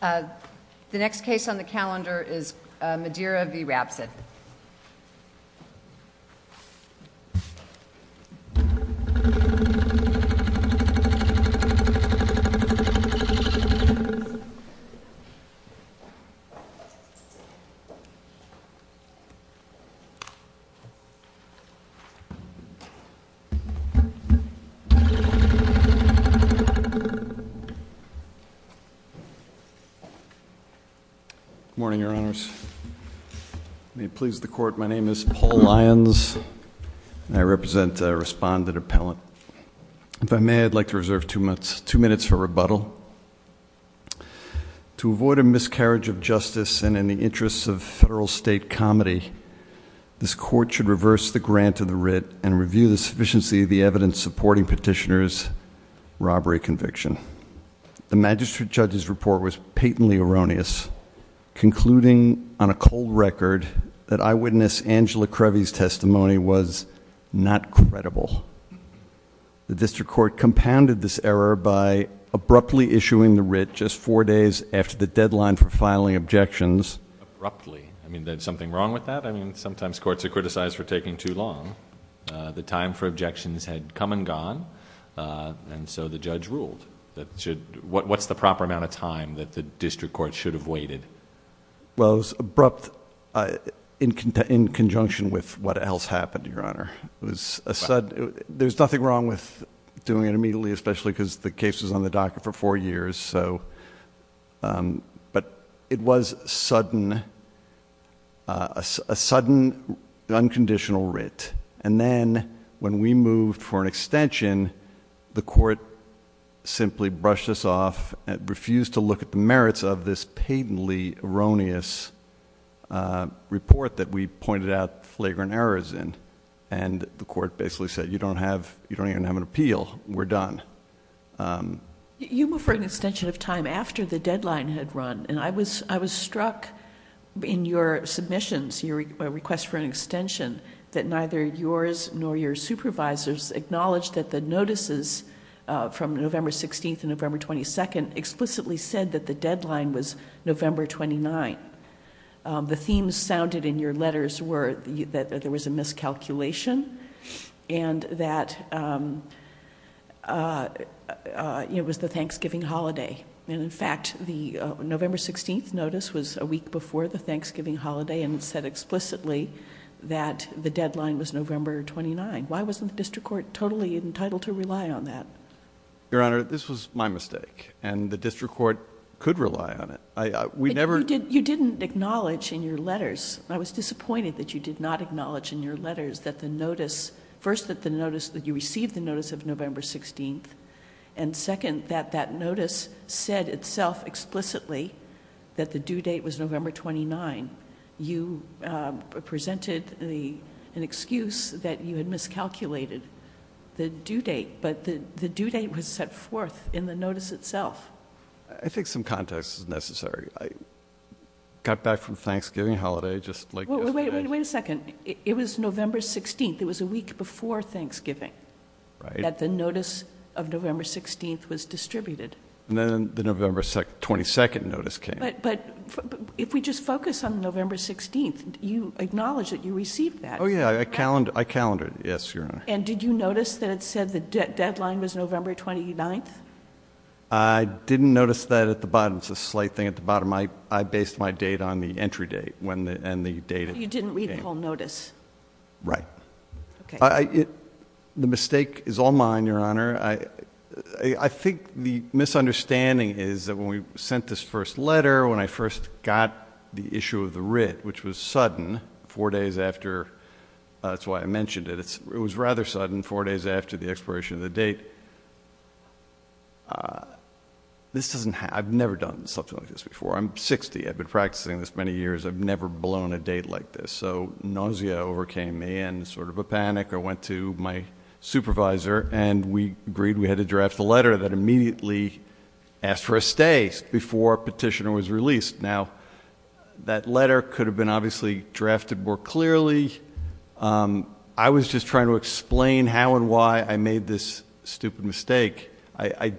The next case on the calendar is Madera v. Rabsatt. Good morning, Your Honors. May it please the Court, my name is Paul Lyons, and I represent a respondent appellant. If I may, I'd like to reserve two minutes for rebuttal. To avoid a miscarriage of justice and in the interests of federal-state comedy, this Court should reverse the grant of the writ and review the sufficiency of the evidence supporting Petitioner's robbery conviction. The magistrate judge's report was patently erroneous, concluding on a cold record that eyewitness Angela Crevy's testimony was not credible. The district court compounded this error by abruptly issuing the writ just four days after the deadline for filing objections. Abruptly? I mean, there's something wrong with that? I mean, sometimes courts are criticized for taking too long. The time for objections had come and gone, and so the judge ruled. What's the proper amount of time that the district court should have waited? Well, it was abrupt in conjunction with what else happened, Your Honor. There's nothing wrong with doing it immediately, especially because the case was on the docket for four years. But it was a sudden, unconditional writ. And then when we moved for an extension, the court simply brushed us off and refused to look at the merits of this patently erroneous report that we pointed out flagrant errors in. And the court basically said, you don't even have an appeal. We're done. You moved for an extension of time after the deadline had run, and I was struck in your submissions, your request for an extension, that neither yours nor your supervisor's acknowledged that the notices from November 16th and November 22nd explicitly said that the deadline was November 29th. The themes sounded in your letters were that there was a miscalculation and that it was the Thanksgiving holiday. And in fact, the November 16th notice was a week before the Thanksgiving holiday and said explicitly that the deadline was November 29th. Why wasn't the district court totally entitled to rely on that? Your Honor, this was my mistake, and the district court could rely on it. You didn't acknowledge in your letters, I was disappointed that you did not acknowledge in your letters that the notice, first that you received the notice of November 16th, and second, that that notice said itself explicitly that the due date was November 29th. You presented an excuse that you had miscalculated the due date, but the due date was set forth in the notice itself. I think some context is necessary. I got back from Thanksgiving holiday just like yesterday. Wait a second. It was November 16th. It was a week before Thanksgiving. Right. That the notice of November 16th was distributed. And then the November 22nd notice came. But if we just focus on November 16th, you acknowledge that you received that. Oh, yeah. I calendared. Yes, Your Honor. And did you notice that it said the deadline was November 29th? I didn't notice that at the bottom. It's a slight thing at the bottom. I based my date on the entry date and the date it came. You didn't read the whole notice. Right. Okay. The mistake is all mine, Your Honor. I think the misunderstanding is that when we sent this first letter, when I first got the issue of the writ, which was sudden, four days after, that's why I mentioned it, it was rather sudden, four days after the expiration of the date. I've never done something like this before. I'm 60. I've been practicing this many years. I've never blown a date like this. So nausea overcame me and sort of a panic. I went to my supervisor, and we agreed we had to draft a letter that immediately asked for a stay before a petitioner was released. Now, that letter could have been obviously drafted more clearly. I was just trying to explain how and why I made this stupid mistake. I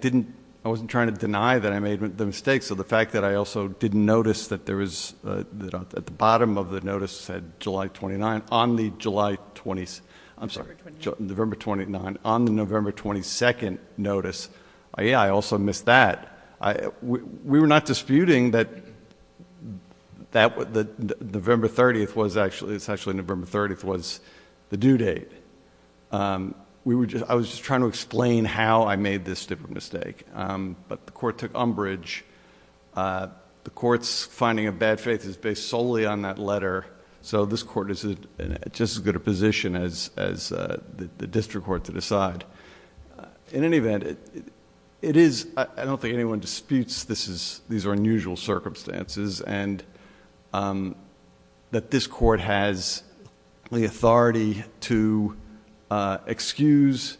wasn't trying to deny that I made the mistake. So the fact that I also didn't notice that there was at the bottom of the notice said July 29th. On the July 20th. I'm sorry. November 29th. On the November 22nd notice. Yeah, I also missed that. We were not disputing that November 30th was actually the due date. I was just trying to explain how I made this stupid mistake. But the court took umbrage. The court's finding of bad faith is based solely on that letter. So this court is in just as good a position as the district court to decide. In any event, it is... I don't think anyone disputes these are unusual circumstances. And that this court has the authority to excuse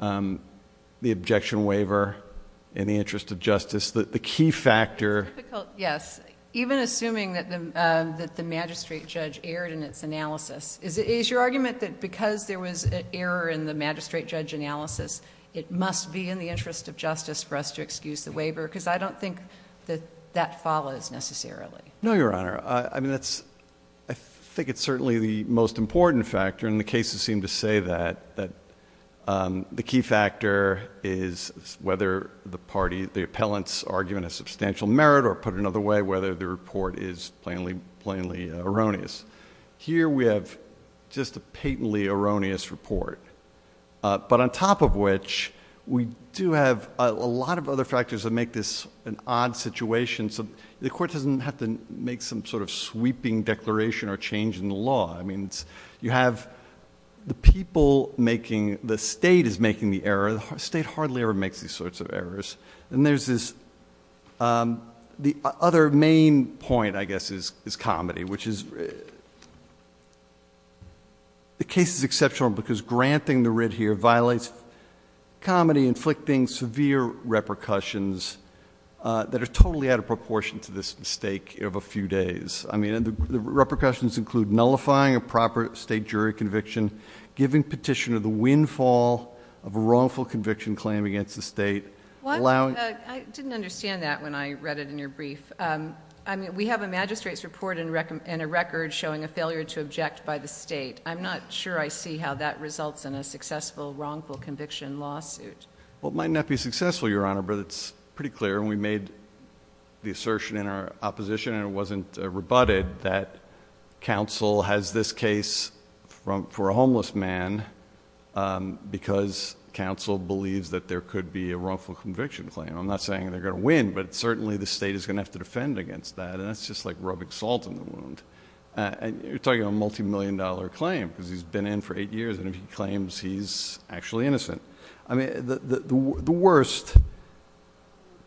the objection waiver in the interest of justice. The key factor... It's difficult, yes. Even assuming that the magistrate judge erred in its analysis. Is your argument that because there was an error in the magistrate judge analysis, it must be in the interest of justice for us to excuse the waiver? Because I don't think that that follows necessarily. No, Your Honor. I mean that's... I think it's certainly the most important factor. And the cases seem to say that. The key factor is whether the party... the appellants argue in a substantial merit. Or put another way, whether the report is plainly erroneous. Here we have just a patently erroneous report. But on top of which, we do have a lot of other factors that make this an odd situation. The court doesn't have to make some sort of sweeping declaration or change in the law. You have the people making... the state is making the error. And there's this... the other main point, I guess, is comedy. Which is... the case is exceptional because granting the writ here violates comedy. Inflicting severe repercussions that are totally out of proportion to this mistake of a few days. I mean the repercussions include nullifying a proper state jury conviction. Giving petitioner the windfall of a wrongful conviction claim against the state. I didn't understand that when I read it in your brief. We have a magistrate's report and a record showing a failure to object by the state. I'm not sure I see how that results in a successful wrongful conviction lawsuit. Well, it might not be successful, Your Honor, but it's pretty clear. And we made the assertion in our opposition, and it wasn't rebutted, that counsel has this case for a homeless man because counsel believes that there could be a wrongful conviction claim. I'm not saying they're going to win, but certainly the state is going to have to defend against that. And that's just like rubbing salt in the wound. You're talking about a multi-million dollar claim because he's been in for eight years. And if he claims, he's actually innocent. I mean, the worst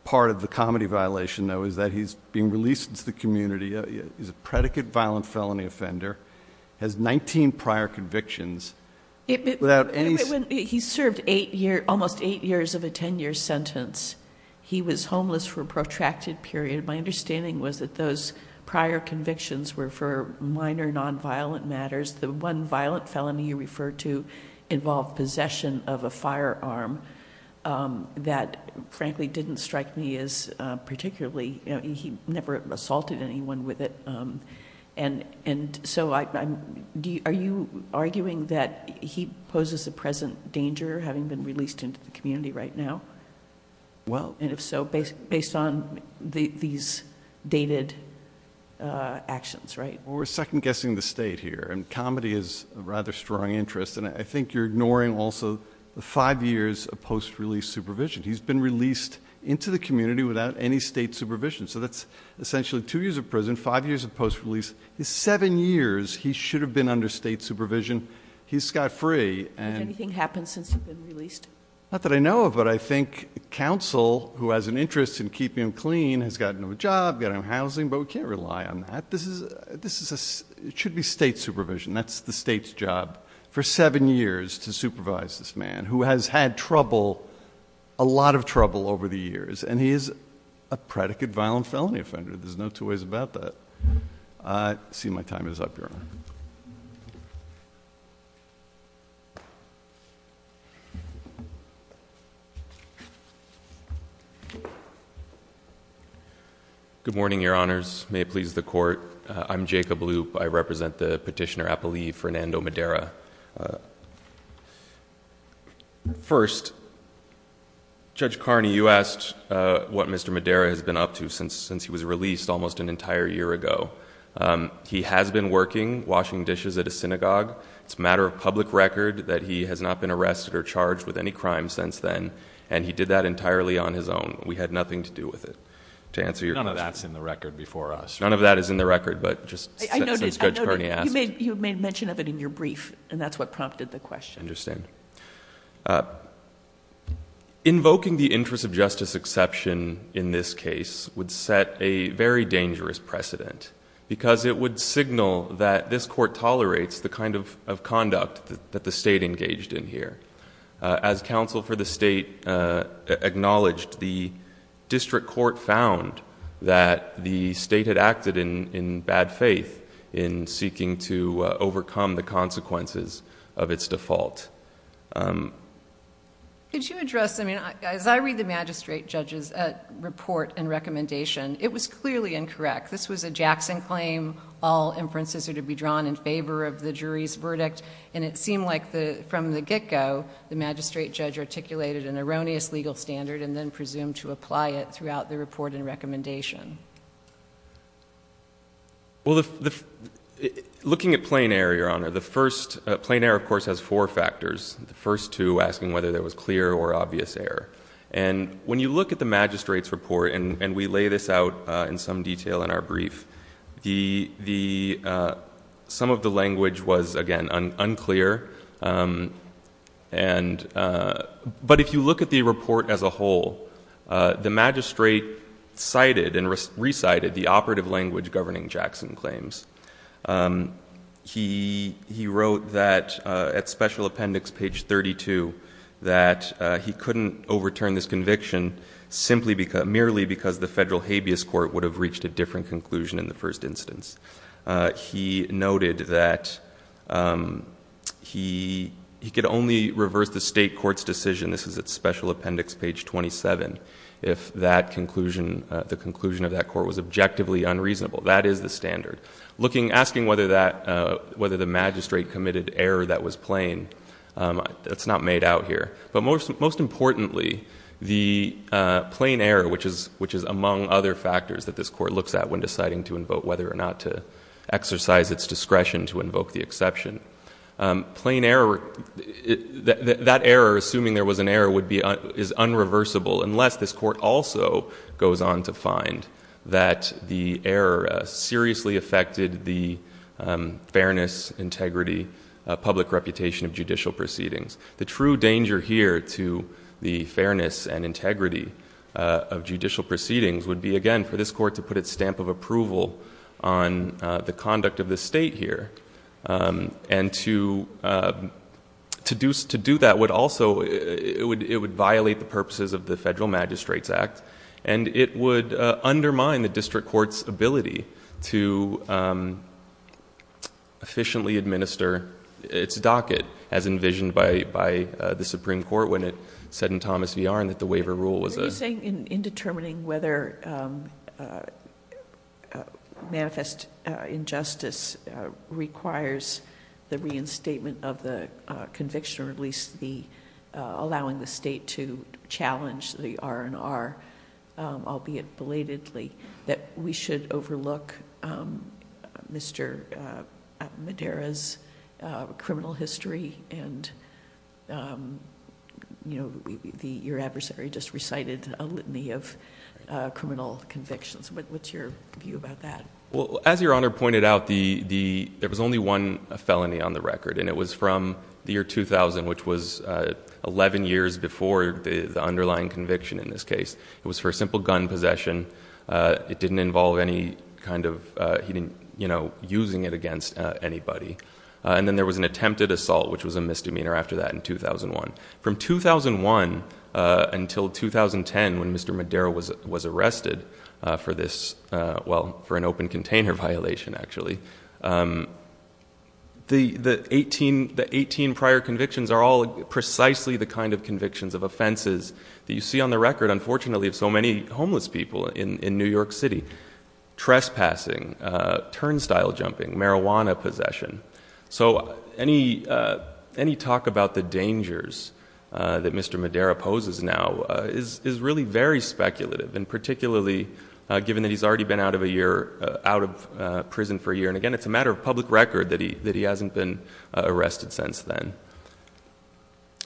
part of the comedy violation, though, is that he's being released into the community. He's a predicate violent felony offender, has 19 prior convictions. He served almost eight years of a 10-year sentence. He was homeless for a protracted period. My understanding was that those prior convictions were for minor nonviolent matters. The one violent felony you referred to involved possession of a firearm that, frankly, didn't strike me as particularly. He never assaulted anyone with it. And so are you arguing that he poses a present danger, having been released into the community right now? Well. And if so, based on these dated actions, right? Well, we're second-guessing the state here. And comedy is a rather strong interest. And I think you're ignoring also the five years of post-release supervision. He's been released into the community without any state supervision. So that's essentially two years of prison, five years of post-release. He's seven years. He should have been under state supervision. He's got free. Has anything happened since he's been released? Not that I know of. But I think counsel, who has an interest in keeping him clean, has gotten him a job, got him housing. But we can't rely on that. This should be state supervision. That's the state's job, for seven years, to supervise this man, who has had trouble, a lot of trouble over the years. And he is a predicate violent felony offender. There's no two ways about that. I see my time is up, Your Honor. Good morning, Your Honors. May it please the Court. I'm Jacob Loop. I represent the petitioner appellee, Fernando Madera. First, Judge Carney, you asked what Mr. Madera has been up to since he was released almost an entire year ago. He has been working, washing dishes at a synagogue. It's a matter of public record that he has not been arrested or charged with any crime since then. And he did that entirely on his own. We had nothing to do with it, to answer your question. None of that's in the record before us. None of that is in the record, but since Judge Carney asked... I noticed. You made mention of it in your brief, and that's what prompted the question. I understand. Invoking the interest of justice exception in this case would set a very dangerous precedent, because it would signal that this court tolerates the kind of conduct that the state engaged in here. As counsel for the state acknowledged, the district court found that the state had acted in bad faith in seeking to overcome the consequences of its default. Could you address... As I read the magistrate judge's report and recommendation, it was clearly incorrect. This was a Jackson claim. All inferences are to be drawn in favor of the jury's verdict. And it seemed like from the get-go, the magistrate judge articulated an erroneous legal standard and then presumed to apply it throughout the report and recommendation. Well, looking at plain error, Your Honor, the first... Plain error, of course, has four factors. The first two asking whether there was clear or obvious error. And when you look at the magistrate's report, and we lay this out in some detail in our brief, some of the language was, again, unclear. But if you look at the report as a whole, the magistrate cited and recited the operative language governing Jackson claims. He wrote that at special appendix page 32 that he couldn't overturn this conviction merely because the federal habeas court would have reached a different conclusion in the first instance. He noted that he could only reverse the state court's decision, this is at special appendix page 27, if the conclusion of that court was objectively unreasonable. That is the standard. Asking whether the magistrate committed error that was plain, that's not made out here. But most importantly, the plain error, which is among other factors that this court looks at when deciding to invoke whether or not to exercise its discretion to invoke the exception, plain error, that error, assuming there was an error, is unreversible unless this court also goes on to find that the error seriously affected the fairness, integrity, public reputation of judicial proceedings. The true danger here to the fairness and integrity of judicial proceedings would be, again, for this court to put its stamp of approval on the conduct of the state here. And to do that would also violate the purposes of the Federal Magistrates Act and it would undermine the district court's ability to efficiently administer its docket as envisioned by the Supreme Court when it said in Thomas v. Arnn that the waiver rule was a Are you saying in determining whether manifest injustice requires the reinstatement of the conviction or at least allowing the state to challenge the R&R, albeit belatedly, that we should overlook Mr. Madera's criminal history and your adversary just recited a litany of criminal convictions? What's your view about that? Well, as Your Honor pointed out, there was only one felony on the record and it was from the year 2000, which was 11 years before the underlying conviction in this case. It was for a simple gun possession. It didn't involve any kind of using it against anybody. And then there was an attempted assault, which was a misdemeanor after that in 2001. From 2001 until 2010 when Mr. Madera was arrested for an open container violation, actually, the 18 prior convictions are all precisely the kind of convictions of offenses that you see on the record. Unfortunately, of so many homeless people in New York City. Trespassing, turnstile jumping, marijuana possession. So any talk about the dangers that Mr. Madera poses now is really very speculative and particularly given that he's already been out of prison for a year. And again, it's a matter of public record that he hasn't been arrested since then.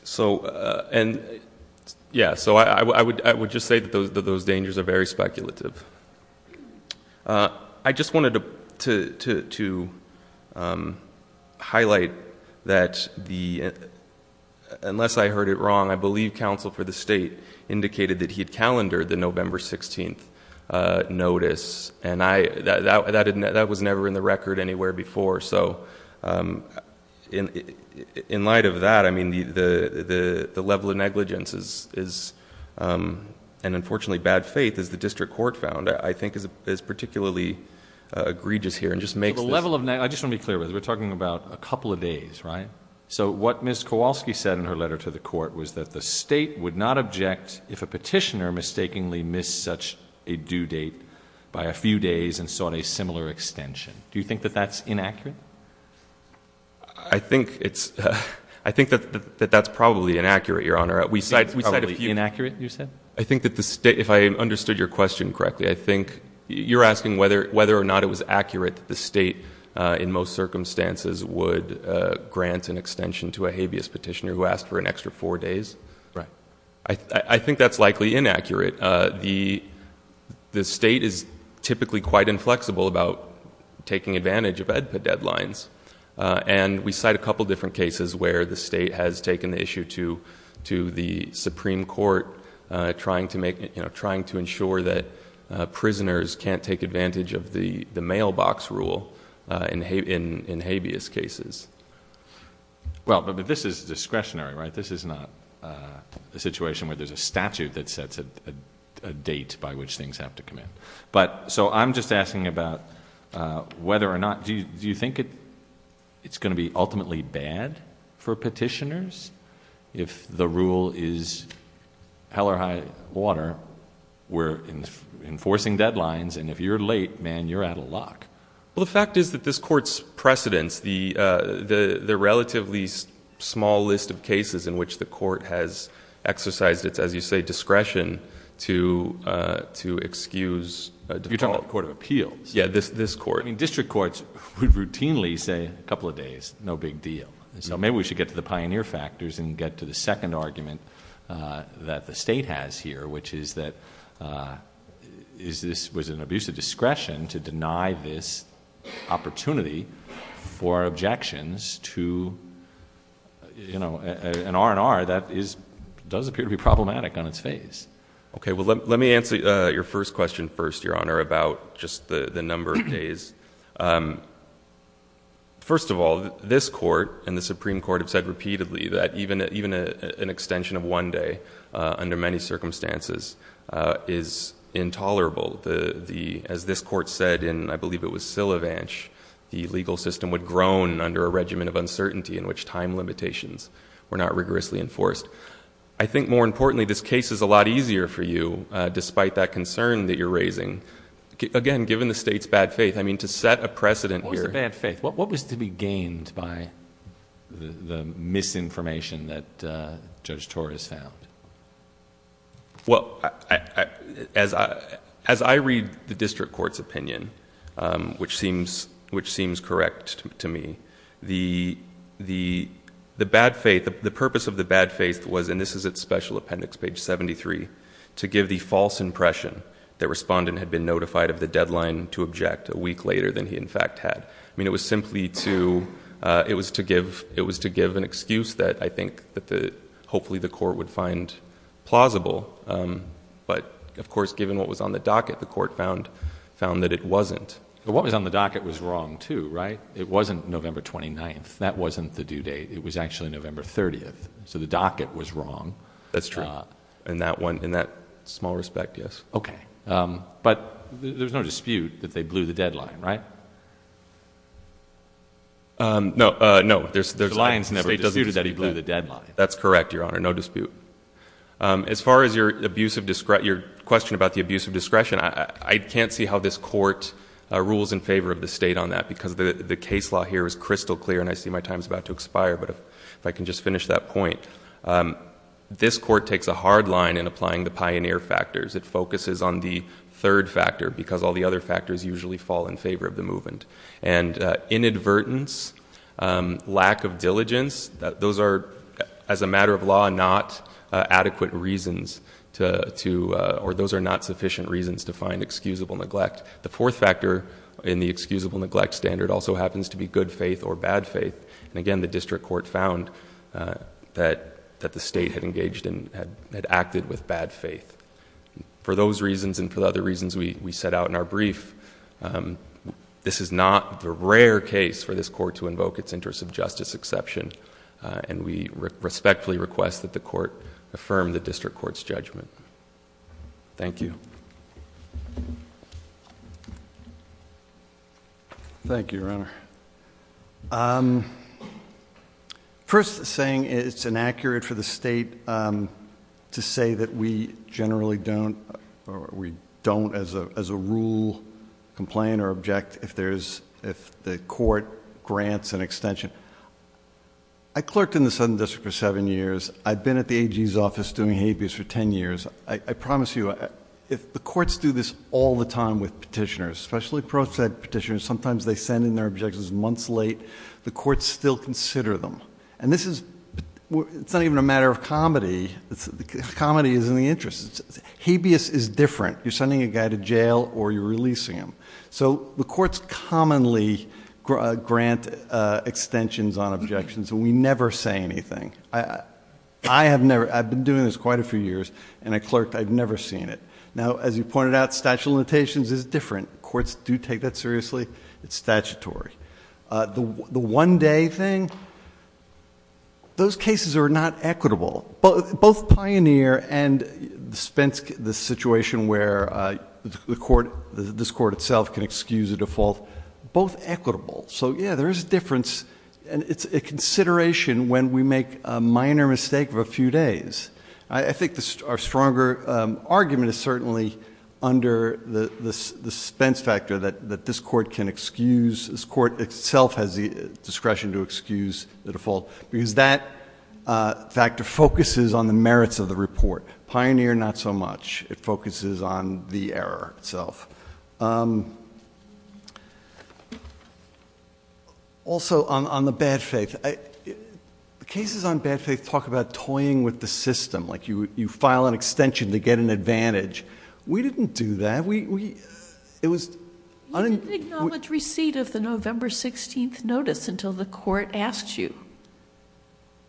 So I would just say that those dangers are very speculative. I just wanted to highlight that unless I heard it wrong, I believe counsel for the state indicated that he had calendared the November 16th notice. And that was never in the record anywhere before. So in light of that, the level of negligence is, and unfortunately bad faith, as the district court found, I think is particularly egregious here. I just want to be clear with you. We're talking about a couple of days, right? So what Ms. Kowalski said in her letter to the court was that the state would not object if a petitioner mistakenly missed such a due date by a few days and sought a similar extension. Do you think that that's inaccurate? I think that that's probably inaccurate, Your Honor. Probably inaccurate, you said? I think that the state, if I understood your question correctly, I think you're asking whether or not it was accurate that the state in most circumstances would grant an extension to a habeas petitioner who asked for an extra four days. Right. I think that's likely inaccurate. The state is typically quite inflexible about taking advantage of EDPA deadlines. And we cite a couple of different cases where the state has taken the issue to the Supreme Court, trying to ensure that prisoners can't take advantage of the mailbox rule in habeas cases. Well, but this is discretionary, right? This is not a situation where there's a statute that sets a date by which things have to come in. So I'm just asking about whether or not... Do you think it's going to be ultimately bad for petitioners if the rule is hell or high water? We're enforcing deadlines, and if you're late, man, you're out of luck. Well, the fact is that this Court's precedents, the relatively small list of cases in which the Court has exercised its, as you say, discretion to excuse... You're talking about the Court of Appeals. Yeah, this Court. I mean, district courts would routinely say, a couple of days, no big deal. So maybe we should get to the pioneer factors and get to the second argument that the state has here, which is that this was an abuse of discretion to deny this opportunity for objections to an R&R that does appear to be problematic on its face. Okay, well, let me answer your first question first, Your Honor, about just the number of days. First of all, this Court and the Supreme Court have said repeatedly that even an extension of one day under many circumstances is intolerable. As this Court said in, I believe it was Sillivanch, the legal system would groan under a regiment of uncertainty in which time limitations were not rigorously enforced. I think more importantly, this case is a lot easier for you, despite that concern that you're raising. Again, given the state's bad faith, I mean, to set a precedent here... What was the bad faith? What was to be gained by the misinformation that Judge Torres found? Well, as I read the district court's opinion, which seems correct to me, the bad faith, the purpose of the bad faith was, and this is at Special Appendix, page 73, to give the false impression that Respondent had been notified of the deadline to object a week later than he in fact had. I mean, it was simply to... it was to give an excuse that I think that hopefully the Court would find plausible. But, of course, given what was on the docket, the Court found that it wasn't. What was on the docket was wrong, too, right? It wasn't November 29th. That wasn't the due date. It was actually November 30th, so the docket was wrong. That's true. In that small respect, yes. Okay. But, there's no dispute that they blew the deadline, right? No. The state doesn't dispute that he blew the deadline. That's correct, Your Honor. No dispute. As far as your question about the abuse of discretion, I can't see how this Court rules in favor of the state on that, because the case law here is crystal clear, and I see my time is about to expire. But if I can just finish that point, this Court takes a hard line in applying the pioneer factors. It focuses on the third factor, because all the other factors usually fall in favor of the movement. And inadvertence, lack of diligence, those are, as a matter of law, not adequate reasons to, or those are not sufficient reasons to find excusable neglect. The fourth factor in the excusable neglect standard also happens to be good faith or bad faith. And again, the district court found that the state had engaged in, had acted with bad faith. For those reasons and for the other reasons we set out in our brief, this is not the rare case for this Court to invoke its interest of justice exception, and we respectfully request that the Court affirm the district court's judgment. Thank you. Thank you, Your Honor. First, saying it's inaccurate for the state to say that we generally don't, or we don't as a rule, complain or object if the Court grants an extension. I clerked in the Southern District for seven years. I've been at the AG's office doing habeas for ten years. I promise you, if the courts do this all the time with petitioners, especially pro-seg petitioners, sometimes they send in their objections months late, the courts still consider them. And this is, it's not even a matter of comedy. Comedy is in the interest. Habeas is different. You're sending a guy to jail or you're releasing him. So the courts commonly grant extensions on objections, and we never say anything. I have never, I've been doing this quite a few years, and I clerked, I've never seen it. Now, as you pointed out, statute of limitations is different. Courts do take that seriously. It's statutory. The one-day thing, those cases are not equitable. Both Pioneer and the situation where this Court itself can excuse a default, both equitable. So, yeah, there is a difference, and it's a consideration when we make a minor mistake of a few days. I think our stronger argument is certainly under the suspense factor that this Court can excuse, this Court itself has the discretion to excuse the default, because that factor focuses on the merits of the report. Pioneer, not so much. It focuses on the error itself. Also, on the bad faith, the cases on bad faith talk about toying with the system, like you file an extension to get an advantage. We didn't do that. We, it was... You didn't acknowledge receipt of the November 16th notice until the Court asked you,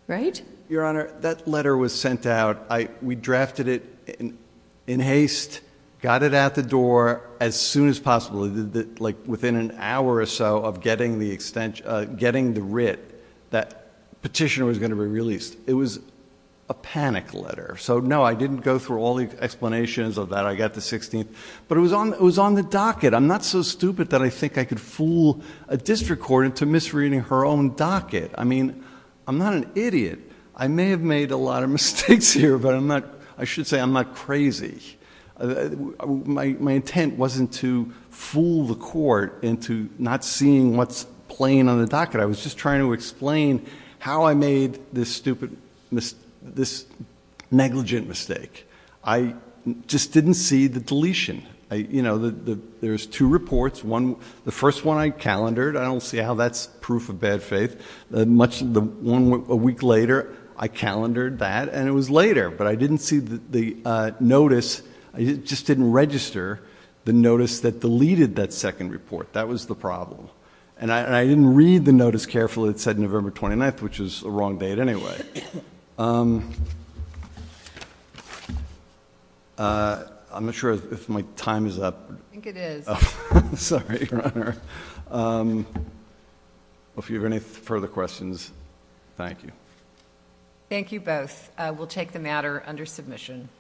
right? Your Honor, that letter was sent out. We drafted it in haste, got it out the door as soon as possible, within an hour or so of getting the writ that petition was going to be released. It was a panic letter. So, no, I didn't go through all the explanations of that. I got the 16th. But it was on the docket. I'm not so stupid that I think I could fool a district court into misreading her own docket. I mean, I'm not an idiot. I may have made a lot of mistakes here, but I'm not, I should say I'm not crazy. My intent wasn't to fool the court into not seeing what's playing on the docket. I was just trying to explain how I made this stupid, this negligent mistake. I just didn't see the deletion. You know, there's two reports. The first one I calendared. I don't see how that's proof of bad faith. A week later, I calendared that, and it was later. But I didn't see the notice. I just didn't register the notice that deleted that second report. That was the problem. And I didn't read the notice carefully. It said November 29th, which was the wrong date anyway. I'm not sure if my time is up. I think it is. Sorry, Your Honor. If you have any further questions, thank you. Thank you both. We'll take the matter under submission.